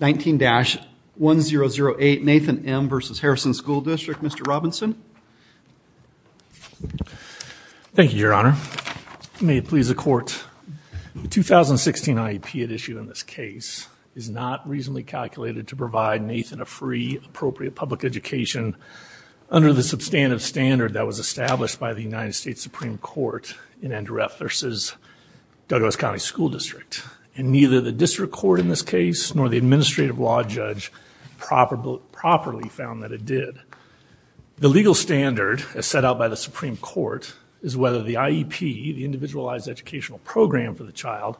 19-1008 Nathan M. v. Harrison School District. Mr. Robinson. Thank you, Your Honor. May it please the Court. The 2016 IEP at issue in this case is not reasonably calculated to provide Nathan a free appropriate public education under the substantive standard that was established by the United States Supreme Court in Endureff v. Douglas County School District and neither the district court in this case nor the administrative law judge properly found that it did. The legal standard as set out by the Supreme Court is whether the IEP, the individualized educational program for the child,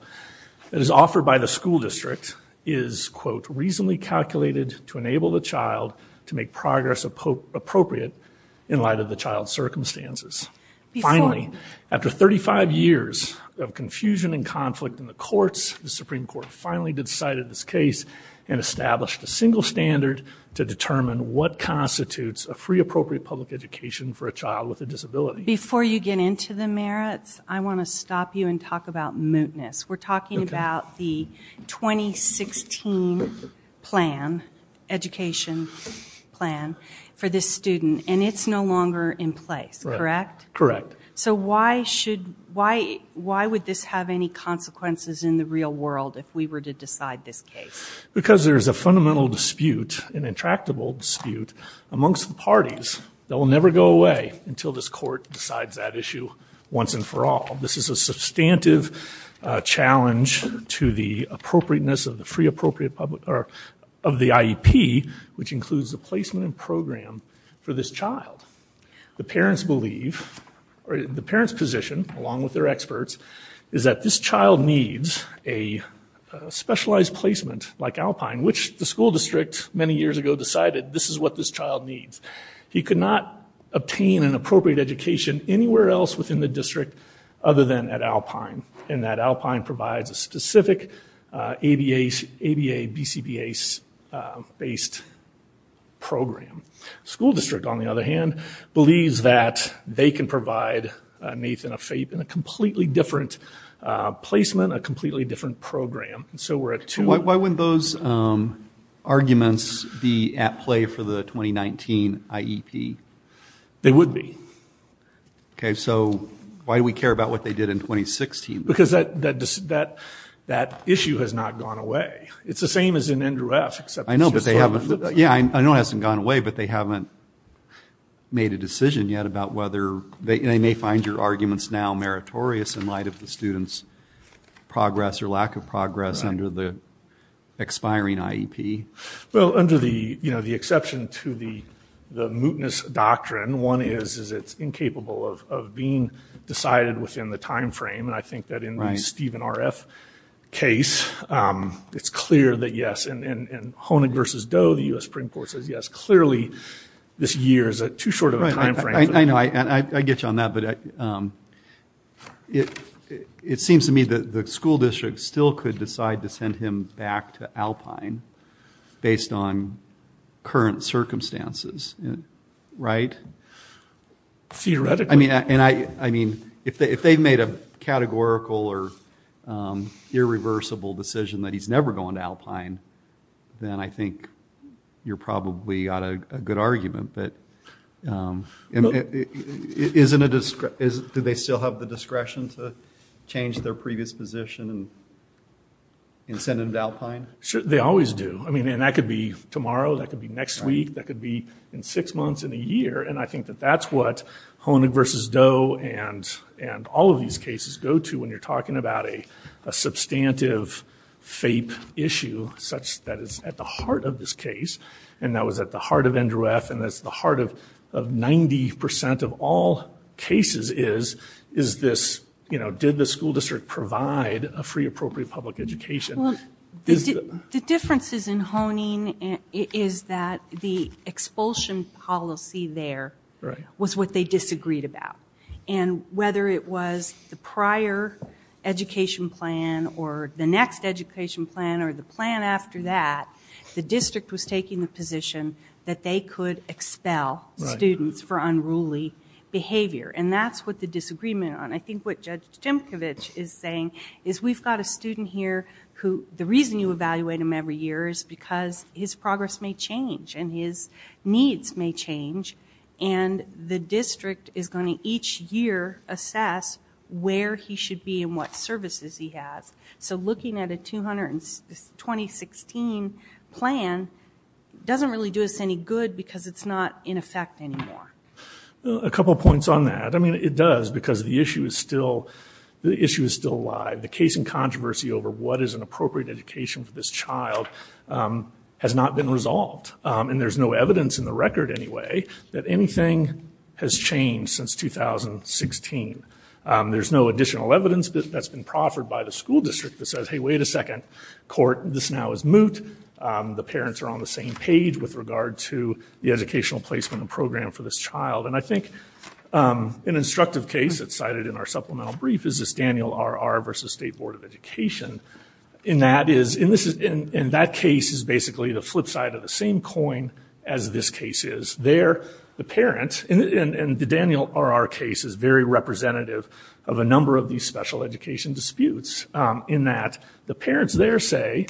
that is offered by the school district is, quote, reasonably calculated to enable the child to make progress appropriate in light of the child's circumstances. Finally, after 35 years of confusion and conflict in the courts, the Supreme Court finally decided this case and established a single standard to determine what constitutes a free appropriate public education for a child with a disability. Before you get into the merits, I want to stop you and talk about mootness. We're talking about the 2016 plan, education plan, for this student and it's no longer in place, correct? Correct. So why should, why would this have any consequences in the real world if we were to decide this case? Because there's a fundamental dispute, an intractable dispute, amongst the parties that will never go away until this court decides that issue once and for all. This is a substantive challenge to the appropriateness of the free appropriate public, or of the IEP, which includes the belief, or the parent's position, along with their experts, is that this child needs a specialized placement like Alpine, which the school district many years ago decided this is what this child needs. He could not obtain an appropriate education anywhere else within the district other than at Alpine, and that Alpine provides a specific ABA, BCBA-based program. School district, they can provide Nathan a completely different placement, a completely different program. So we're at two... Why wouldn't those arguments be at play for the 2019 IEP? They would be. Okay, so why do we care about what they did in 2016? Because that issue has not gone away. It's the same as in Andrew F. I know, but they haven't, yeah, I know it hasn't gone away, but they haven't made a decision yet about whether, they may find your arguments now meritorious in light of the students progress, or lack of progress, under the expiring IEP. Well, under the, you know, the exception to the mootness doctrine, one is, is it's incapable of being decided within the time frame, and I think that in the Stephen RF case, it's clear that yes, and versus Doe, the U.S. Supreme Court says yes, clearly this year is too short of a time frame. I know, I get you on that, but it seems to me that the school district still could decide to send him back to Alpine based on current circumstances, right? Theoretically. I mean, if they've made a categorical or irreversible decision that he's never going to Alpine, then I think you're probably out of a good argument, but isn't it, do they still have the discretion to change their previous position and send him to Alpine? Sure, they always do. I mean, and that could be tomorrow, that could be next week, that could be in six months, in a year, and I think that that's what Hoenig versus Doe and all of these cases go to when you're talking about a substantive FAPE issue such that it's at the heart of this case, and that was at the heart of NDREF, and that's the heart of 90% of all cases is, is this, you know, did the school district provide a free appropriate public education? The difference is in Hoenig is that the expulsion policy there was what they or the next education plan or the plan after that, the district was taking the position that they could expel students for unruly behavior, and that's what the disagreement on. I think what Judge Tymkiewicz is saying is we've got a student here who, the reason you evaluate him every year is because his progress may change, and his needs may change, and the district is going to each year assess where he should be and what services he has, so looking at a 2016 plan doesn't really do us any good because it's not in effect anymore. A couple points on that. I mean it does because the issue is still, the issue is still alive. The case in controversy over what is an appropriate education for this child has not been resolved, and there's no evidence in the record anyway that anything has changed since 2016. There's no additional evidence that's been proffered by the school district that says, hey, wait a second court, this now is moot. The parents are on the same page with regard to the educational placement and program for this child, and I think an instructive case that's cited in our supplemental brief is this Daniel R.R. versus State Board of Education, and that is, in this, in that case is basically the flip side of the same coin as this case is. There, the parents, and the Daniel R.R. case is very representative of a number of these special education disputes in that the parents there say,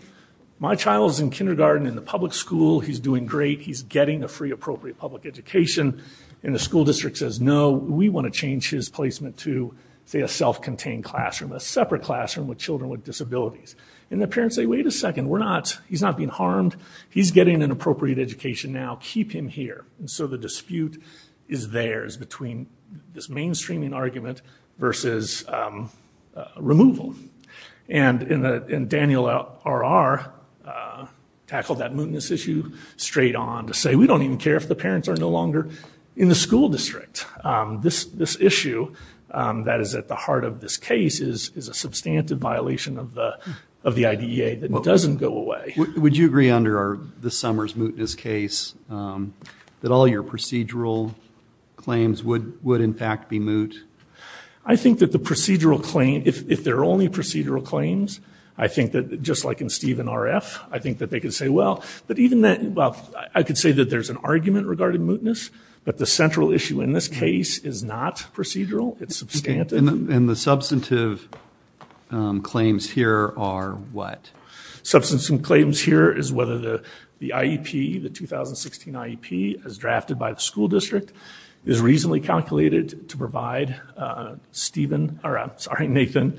my child's in kindergarten in the public school, he's doing great, he's getting a free appropriate public education, and the school district says, no, we want to change his placement to, say, a self-contained classroom, a separate classroom with children with disabilities, and the parents say, wait a second, we're not, he's not being harmed, he's getting an appropriate education now, keep him here, and so the dispute is theirs between this mainstreaming argument versus removal, and in the, and Daniel R.R. tackled that mootness issue straight on to say, we don't even care if the parents are no longer in the school district. This, this issue that is at the heart of this case is, is a substantive violation of the, of the IDEA that doesn't go away. Would you agree under our, this summer's mootness case, that all your procedural claims would, would in fact be moot? I think that the procedural claim, if they're only procedural claims, I think that, just like in Steve and R.F., I think that they could say, well, but even that, well, I could say that there's an argument regarding mootness, but the central issue in this case is not procedural, it's substantive. And the substantive claims here are what? Substantive claims here is whether the, the IEP, the 2016 IEP, as drafted by the school district, is reasonably calculated to provide Stephen, or I'm sorry, Nathan,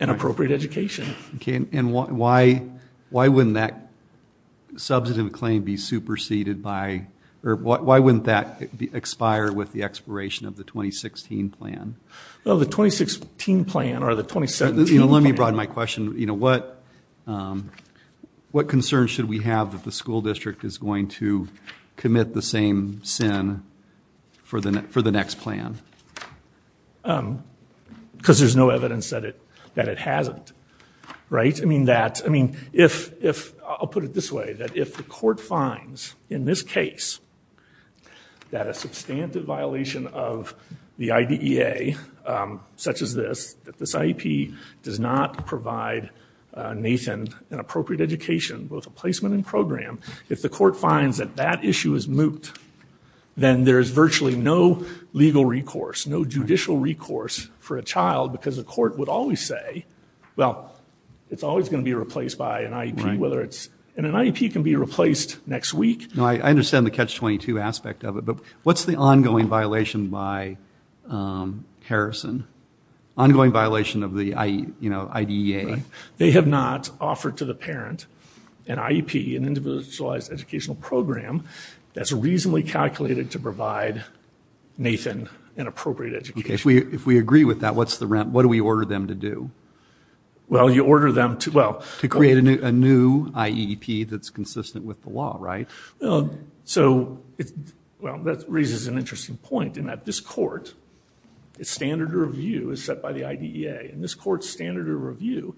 an appropriate education. Okay, and why, why wouldn't that substantive claim be superseded by, or why wouldn't that expire with the expiration of the 2016 plan? Well, the 2016 plan, or the 2017 plan. Let me broaden my question, you know, what, what concerns should we have that the school district is going to commit the same sin for the, for the next plan? Because there's no evidence that it, that it hasn't, right? I mean, that, I mean, if, if, I'll put it this way, that if the court finds, in this case, that a substantive violation of the IDEA, such as this, that this IEP does not provide Nathan an appropriate education, both a placement and program, if the court finds that that issue is moot, then there is virtually no legal recourse, no judicial recourse for a child, because the court would always say, well, it's always going to be replaced by an IEP, whether it's, and an IEP can be replaced next week. No, I understand the catch-22 aspect of it, but what's the ongoing violation by Harrison? Ongoing violation of the, you know, IDEA? They have not offered to the parent an IEP, an individualized educational program, that's reasonably calculated to provide Nathan an appropriate education. If we, if we agree with that, what's the rent, what do we order them to do? Well, you order them to, well, to create a new IEP that's consistent with the law, right? Well, so, well, that raises an interesting point, in that this court, its standard of review is set by the IDEA, and this court's standard of review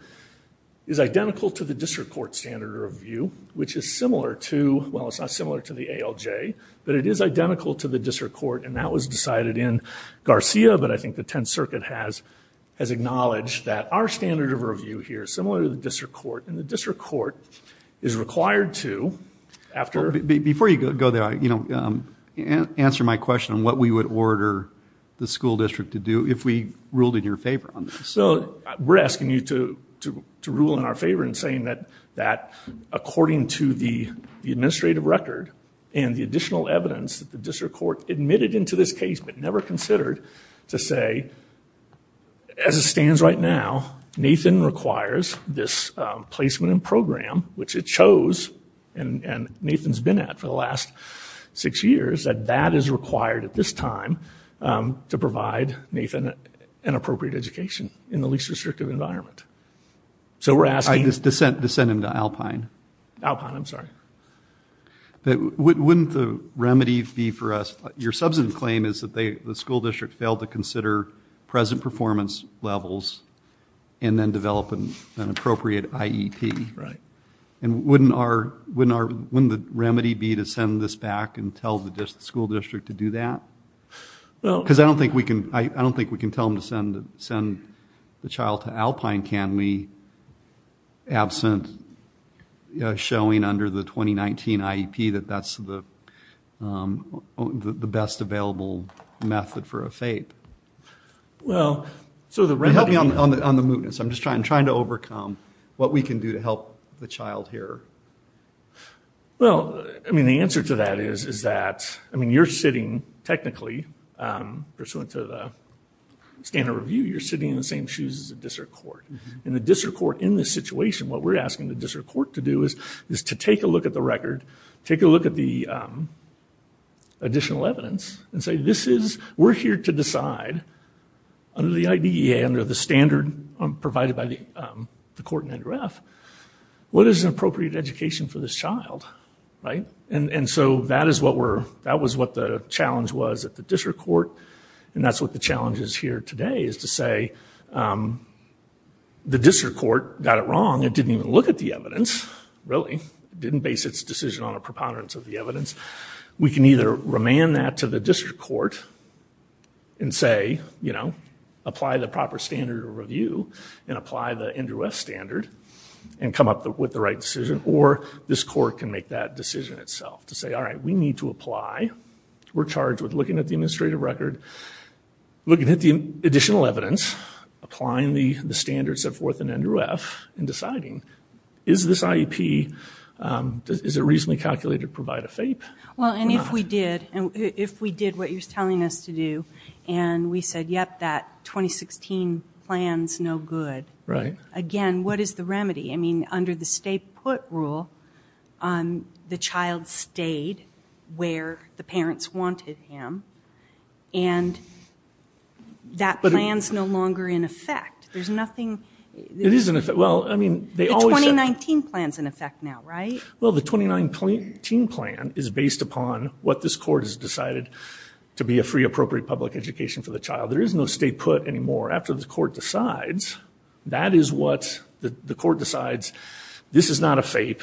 is identical to the district court standard of review, which is similar to, well, it's not similar to the ALJ, but it is identical to the district court, and that was decided in Garcia, but I think the Tenth Circuit has, has acknowledged that our standard of review here is similar to the district court, and the district court is required to, after... Before you go there, you know, answer my question on what we would order the school district to do if we ruled in your favor on this. So, we're asking you to, to rule in our favor in saying that, that according to the administrative record and the additional evidence that the district court admitted into this case, but never considered to say, as a right now, Nathan requires this placement in program, which it chose, and Nathan's been at for the last six years, that that is required at this time to provide Nathan an appropriate education in the least restrictive environment. So, we're asking... To send him to Alpine. Alpine, I'm sorry. Wouldn't the remedy be for us, your substantive claim is that they, the school district, failed to and then develop an appropriate IEP? Right. And wouldn't our, wouldn't our, wouldn't the remedy be to send this back and tell the school district to do that? Well... Because I don't think we can, I don't think we can tell them to send, send the child to Alpine, can we, absent showing under the 2019 IEP, that that's the best available method for a FAPE? Well, so the remedy... Help me on the mootness. I'm just trying, trying to overcome what we can do to help the child here. Well, I mean, the answer to that is, is that, I mean, you're sitting technically, pursuant to the standard review, you're sitting in the same shoes as the district court. And the district court, in this situation, what we're asking the district court to do is, is to take a look at the record, take a look at the additional evidence, and say, this is, we're here to decide, under the IDEA, under the standard provided by the court in NREF, what is an appropriate education for this child? Right. And, and so that is what we're, that was what the challenge was at the district court. And that's what the challenge is here today, is to say, the district court got it wrong. It didn't even look at the evidence. We can either remand that to the district court, and say, you know, apply the proper standard review, and apply the NREF standard, and come up with the right decision, or this court can make that decision itself. To say, all right, we need to apply. We're charged with looking at the administrative record, looking at the additional evidence, applying the standards set forth in NREF, and deciding, is this IEP, is it reasonably calculated, provide a FAPE? Well, and if we did, and if we did what you're telling us to do, and we said, yep, that 2016 plan's no good. Right. Again, what is the remedy? I mean, under the stay put rule, the child stayed where the parents wanted him, and that plan's no longer in effect. There's nothing... It is in effect. Well, I mean, they 29-teen plan is based upon what this court has decided to be a free appropriate public education for the child. There is no stay put anymore. After the court decides, that is what the court decides. This is not a FAPE.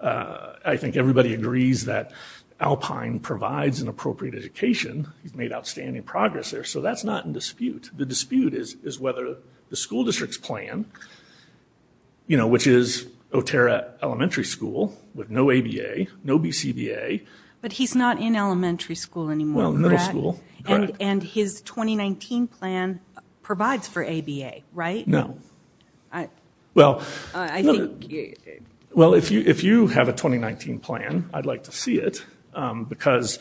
I think everybody agrees that Alpine provides an appropriate education. He's made outstanding progress there, so that's not in dispute. The dispute is whether the no ABA, no BCBA. But he's not in elementary school anymore. Well, middle school. And his 2019 plan provides for ABA, right? No. Well, if you have a 2019 plan, I'd like to see it, because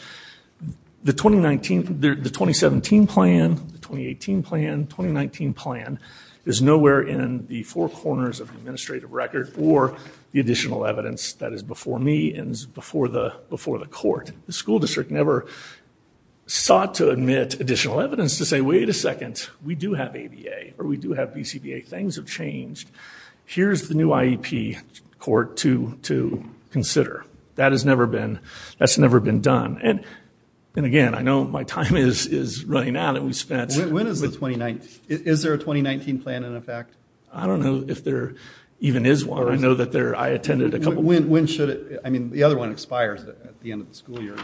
the 2019, the 2017 plan, the 2018 plan, 2019 plan, is nowhere in the four corners of the administrative record or the additional evidence that is before me and before the court. The school district never sought to admit additional evidence to say, wait a second, we do have ABA, or we do have BCBA. Things have changed. Here's the new IEP court to consider. That has never been, that's never been done. And again, I know my time is running out, and we spent... When is the 2019? Is there a 2019 plan in effect? I don't know if there even is one. I know that there, I attended a couple. When should it, I mean, the other one expires at the end of the school year,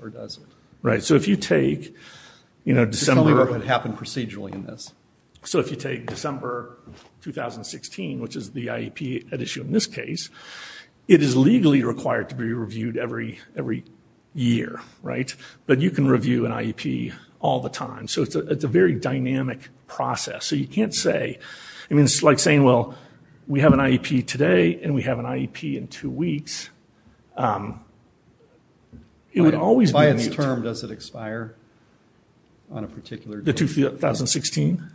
or does it? Right, so if you take, you know, December. It happened procedurally in this. So if you take December 2016, which is the IEP at issue in this case, it is legally required to be reviewed every year, right? But you can review an IEP all the time. So it's a very dynamic process. So you can't say, I mean, it's like saying, well, we have an IEP today, and we have an IEP in two weeks. By its term, does it expire on a particular date? The 2016?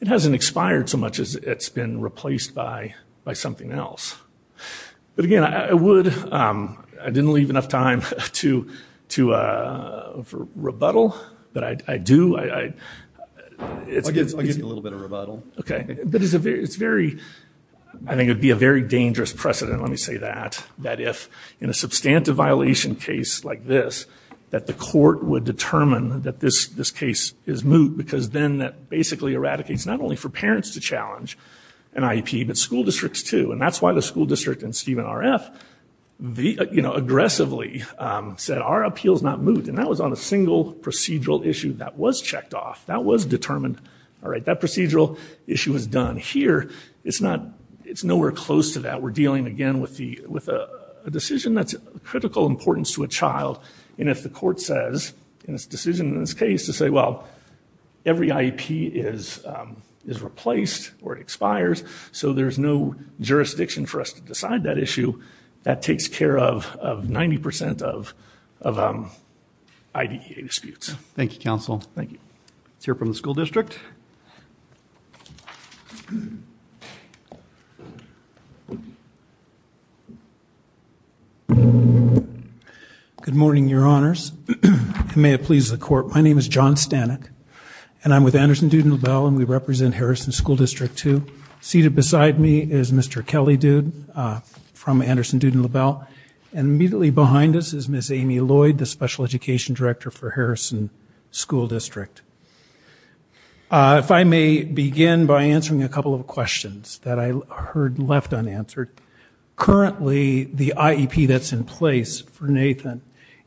It hasn't expired so much as it's been replaced by something else. But again, I would, I didn't leave enough time to rebuttal, but I do. I'll give you a little bit of rebuttal. Okay, but it's very, I think it would be a very dangerous precedent, let me say that, that if in a substantive violation case like this, that the court would determine that this case is moot, because then that basically eradicates not only for parents to challenge an IEP, but school districts too. And that's why the school district and Stephen RF, you know, aggressively said, our appeal is not moot. And that was on a single procedural issue that was checked off, that was issue was done. Here, it's not, it's nowhere close to that. We're dealing again with the, with a decision that's critical importance to a child. And if the court says, in this decision in this case, to say, well, every IEP is replaced or expires, so there's no jurisdiction for us to decide that issue, that takes care of 90% of IDEA disputes. Thank you, counsel. Thank you. Let's hear from the school district. Good morning, your honors. May it please the court, my name is John Stanek, and I'm with Anderson-Duden-LaBelle, and we represent Harrison School District 2. Seated beside me is Mr. Kelly Duden from Anderson-Duden-LaBelle, and immediately behind us is Ms. Amy Lloyd, the special education director for Harrison School District. If I may begin by answering a couple of questions that I heard left unanswered. Currently, the IEP that's in place for Nathan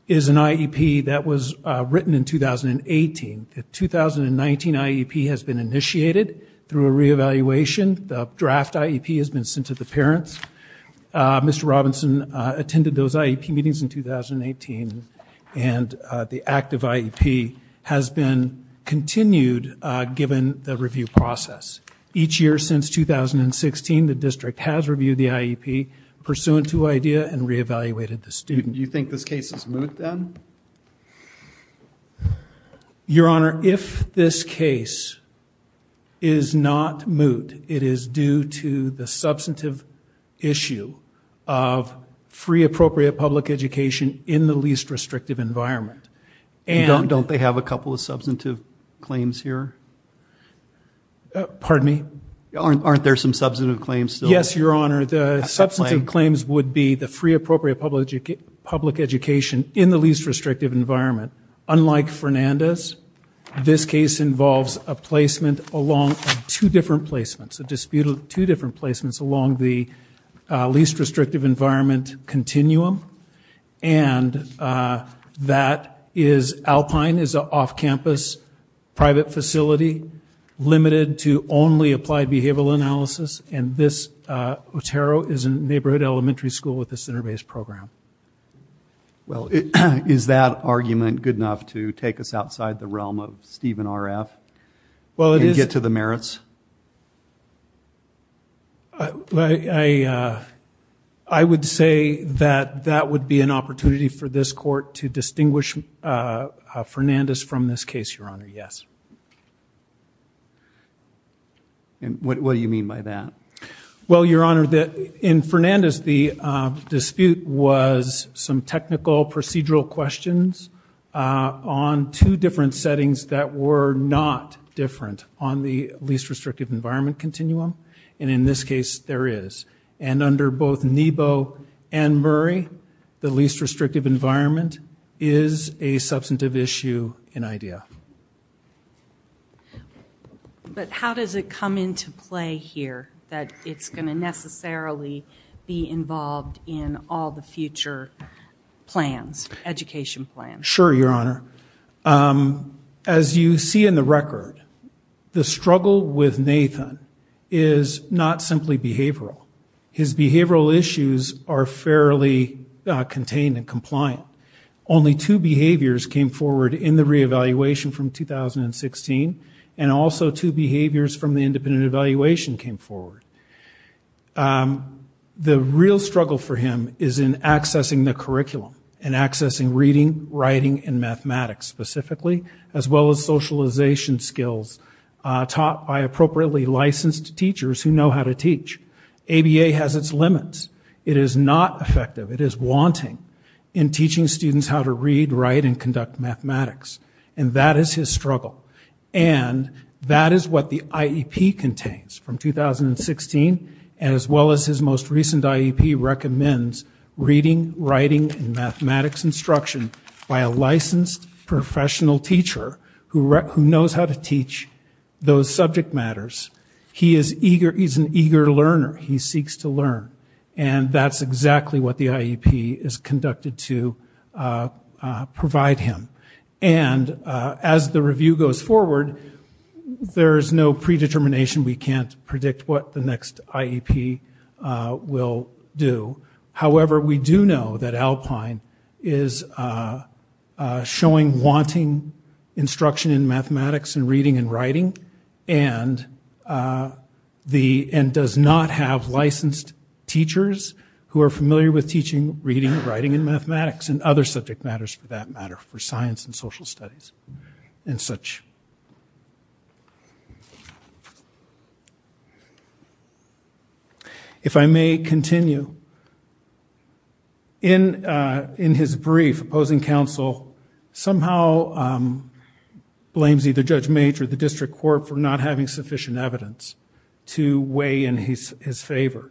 is an IEP that was written in 2018. The 2019 IEP has been initiated through a re-evaluation. The draft IEP has been sent to the parents. Mr. Robinson attended those IEP meetings in 2018, and the active IEP has been continued given the review process. Each year since 2016, the district has reviewed the IEP pursuant to IDEA and re-evaluated the student. Do you think this case is moot then? Your honor, if this case is not moot, it is due to the substantive issue of free appropriate public education in the least restrictive environment. And don't they have a couple of substantive claims here? Pardon me? Aren't there some substantive claims? Yes, your honor, the substantive claims would be the free appropriate public education in the least restrictive environment. Unlike Fernandez, this case involves a placement along two different placements, a disputed two different placements along the least restrictive environment continuum, and that is Alpine is an off-campus private facility limited to only applied behavioral analysis, and this Otero is a neighborhood elementary school with a center-based program. Well, is that argument good enough to take us that that would be an opportunity for this court to distinguish Fernandez from this case, your honor? Yes. And what do you mean by that? Well, your honor, that in Fernandez, the dispute was some technical procedural questions on two different settings that were not different on the least restrictive environment continuum, and in this case there is. And under both Nebo and Murray, the least restrictive environment is a substantive issue in IDEA. But how does it come into play here that it's going to necessarily be involved in all the future plans, education plans? Sure, your honor. As you see in the record, the struggle with Nathan is not simply behavioral. His behavioral issues are fairly contained and compliant. Only two behaviors came forward in the re-evaluation from 2016, and also two behaviors from the independent evaluation came forward. The real struggle for him is in accessing the curriculum and accessing reading, writing, and mathematics specifically, as well as socialization skills taught by appropriately licensed teachers who know how to teach. ABA has its limits. It is not effective. It is wanting in teaching students how to read, write, and conduct mathematics, and that is his struggle. And that is what the IEP contains from 2016, as well as his most recent IEP recommends reading, writing, and mathematics instruction by a licensed professional teacher who knows how to teach those subject matters. He is eager. He's an eager learner. He seeks to learn, and that's exactly what the IEP is conducted to provide him. And as the review goes forward, there is no predetermination. We can't predict what the next IEP will do. However, we do know that Alpine is showing wanting instruction in mathematics and reading and writing, and does not have licensed teachers who are familiar with teaching reading, writing, and mathematics, and other subject matters for that matter, for science and social studies and such. If I may continue, in his brief, opposing counsel somehow blames either Judge Mage or the district court for not having sufficient evidence to weigh in his favor.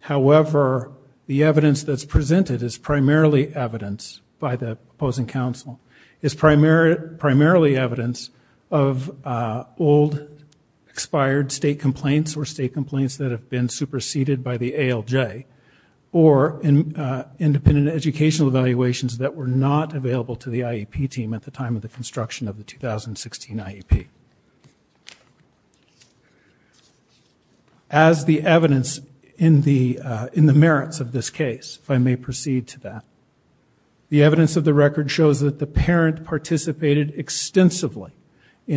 However, the evidence that's presented is primarily evidence by the old expired state complaints, or state complaints that have been superseded by the ALJ, or in independent educational evaluations that were not available to the IEP team at the time of the construction of the 2016 IEP. As the evidence in the merits of this case, if I may proceed to that, the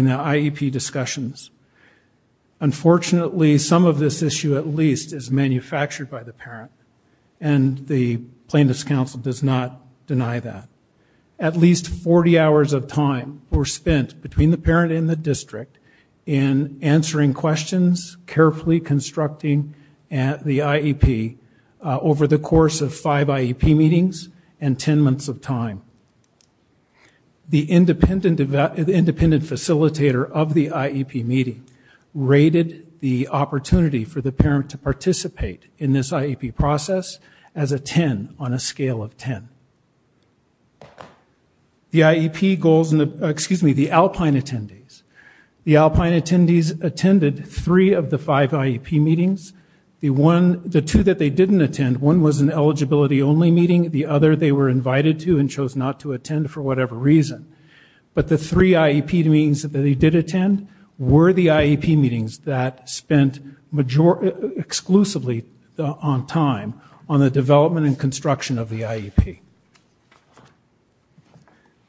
IEP discussions. Unfortunately, some of this issue at least is manufactured by the parent, and the plaintiff's counsel does not deny that. At least 40 hours of time were spent between the parent and the district in answering questions, carefully constructing the IEP over the course of five IEP meetings and ten months of time. The independent facilitator of the IEP meeting rated the opportunity for the parent to participate in this IEP process as a 10 on a scale of 10. The IEP goals, excuse me, the Alpine attendees. The Alpine attendees attended three of the five IEP meetings. The two that they didn't attend, one was an eligibility only meeting, the other they were invited to and chose not to attend for whatever reason, but the three IEP meetings that they did attend were the IEP meetings that spent majority, exclusively on time, on the development and construction of the IEP.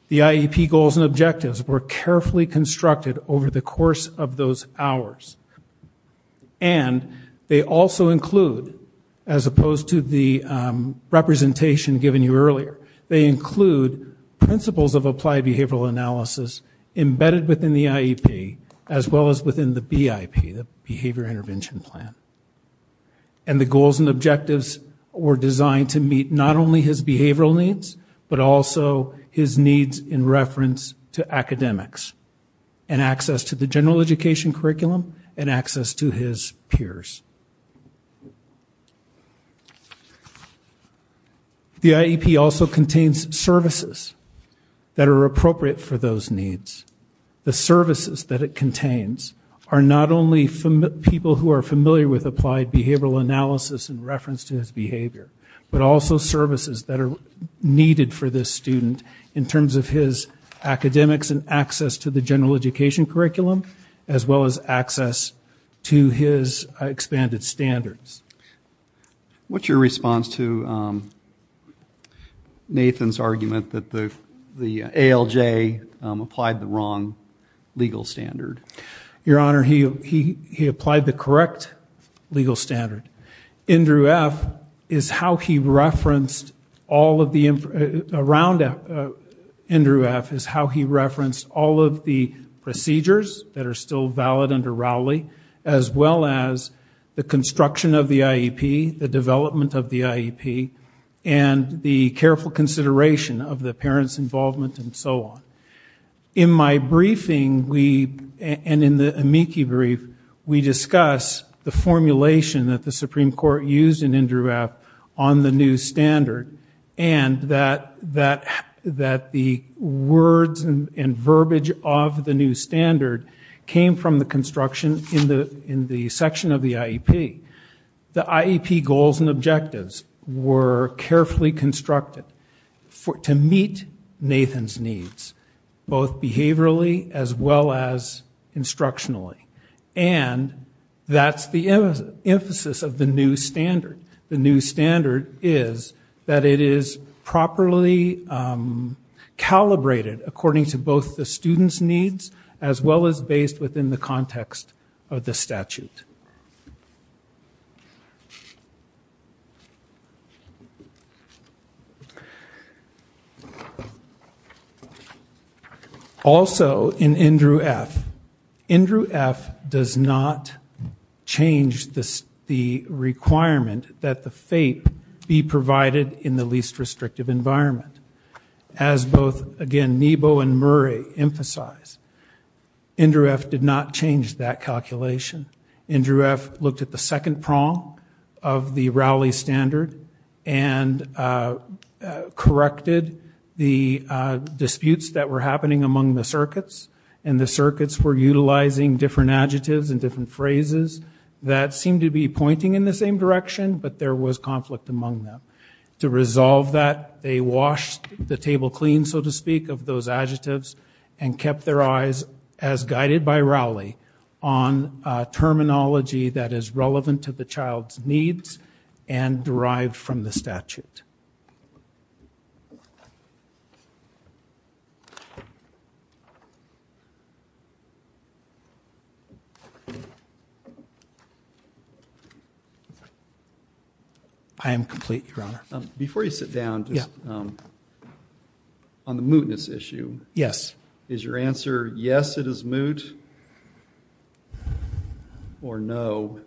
The IEP goals and objectives were carefully constructed over the course of those hours, and they also include, as opposed to the representation given you earlier, they include principles of applied behavioral analysis embedded within the IEP, as well as within the BIP, the Behavior Intervention Plan, and the goals and objectives were designed to meet not only his behavioral needs, but also his needs in reference to academics, and access to the general education curriculum, as well as access to his expanded standards. What's your response to Nathan's argument that the ALJ applied the wrong legal standard? Your Honor, he applied the correct legal standard. Andrew F. is how he referenced all of the, around Andrew F., is how he referenced all of the procedures that are still valid under Rowley, as well as the construction of the IEP, the careful consideration of the parents' involvement, and so on. In my briefing, we, and in the amici brief, we discuss the formulation that the Supreme Court used in Andrew F. on the new standard, and that the words and verbiage of the new standard came from the construction in the section of the IEP. The IEP goals and objectives were carefully constructed to meet Nathan's needs, both behaviorally as well as instructionally, and that's the emphasis of the new standard. The new standard is that it is properly calibrated according to both the student's needs, as well as based within the context of the statute. Also, in Andrew F., Andrew F. does not change the requirement that the FAPE be provided in the least restrictive environment, as both, again, Nebo and Rowley emphasize. Andrew F. did not change that calculation. Andrew F. looked at the second prong of the Rowley standard and corrected the disputes that were happening among the circuits, and the circuits were utilizing different adjectives and different phrases that seemed to be pointing in the same direction, but there was conflict among them. To resolve that, they washed the and kept their eyes, as guided by Rowley, on terminology that is relevant to the child's needs and derived from the statute. I am complete, Your Honor. Before you sit down, just on the mootness issue. Yes. Is your answer, yes, it is moot, or no,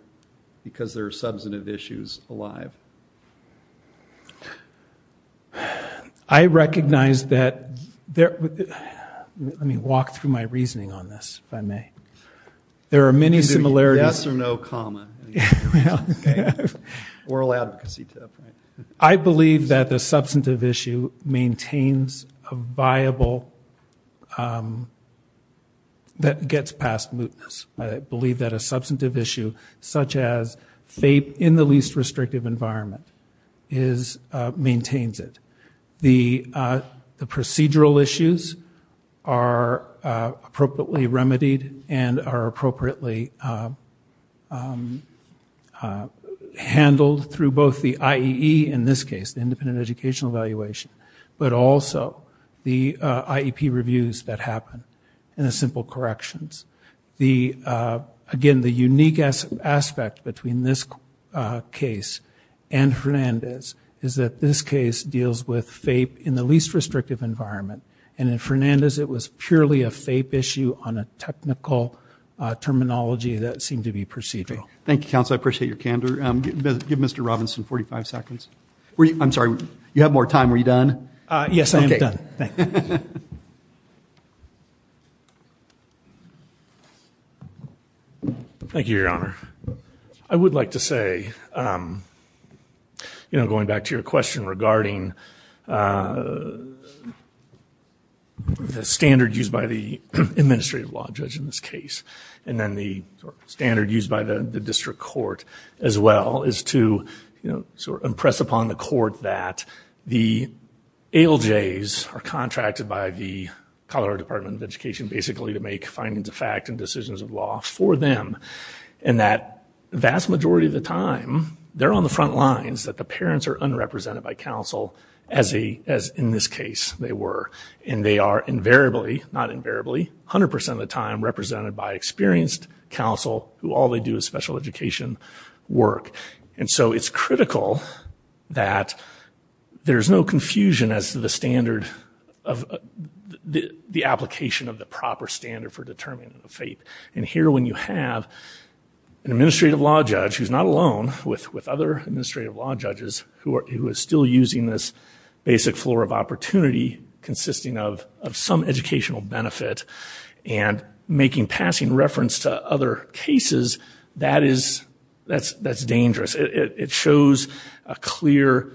because there are substantive issues alive? I recognize that there, let me walk through my reasoning on this, if I may. There are many similarities. Yes or no, comma. Oral advocacy. I believe that the that gets past mootness. I believe that a substantive issue, such as FAPE, in the least restrictive environment, maintains it. The procedural issues are appropriately remedied and are appropriately handled through both the IEP reviews that happen, and the simple corrections. Again, the unique aspect between this case and Fernandez is that this case deals with FAPE in the least restrictive environment, and in Fernandez it was purely a FAPE issue on a technical terminology that seemed to be procedural. Thank you, counsel, I appreciate your candor. Give Mr. Robinson 45 seconds. I'm sorry, you have more time. Were you done? Yes, I am done. Thank you, your honor. I would like to say, you know, going back to your question regarding the standard used by the administrative law judge in this case, and then the standard used by the district court as well, is to, you know, the ALJs are contracted by the Colorado Department of Education, basically, to make findings of fact and decisions of law for them. And that vast majority of the time, they're on the front lines, that the parents are unrepresented by counsel, as in this case they were. And they are invariably, not invariably, 100% of the time represented by experienced counsel, who all they do is special education work. And so it's critical that there's no confusion as to the standard of the application of the proper standard for determining the FAPE. And here, when you have an administrative law judge, who's not alone with other administrative law judges, who are still using this basic floor of opportunity consisting of some educational benefit, and making passing reference to other cases, that is, that's dangerous. It shows a clear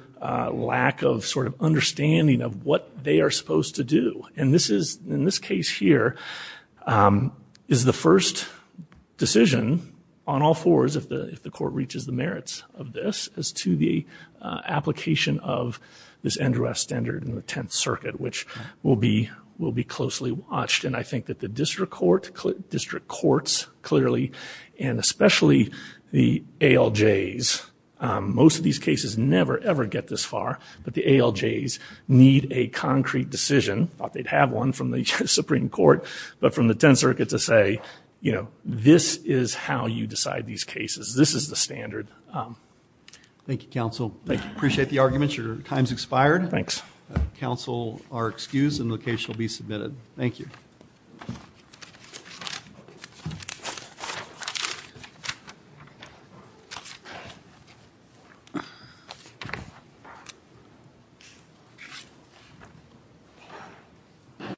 lack of, sort of, understanding of what they are supposed to do. And this is, in this case here, is the first decision on all fours, if the court reaches the merits of this, as to the application of this NDRS standard in the 10th Circuit, which will be closely watched. And I think that the district court, district courts, clearly, and especially the ALJs, most of these cases never ever get this far, but the ALJs need a concrete decision, thought they'd have one from the Supreme Court, but from the 10th Circuit to say, you know, this is how you decide these cases. This is the standard. Thank you, counsel. I appreciate the arguments. Your time's expired. Thanks. Counsel are excused and the case will be submitted. Thank you.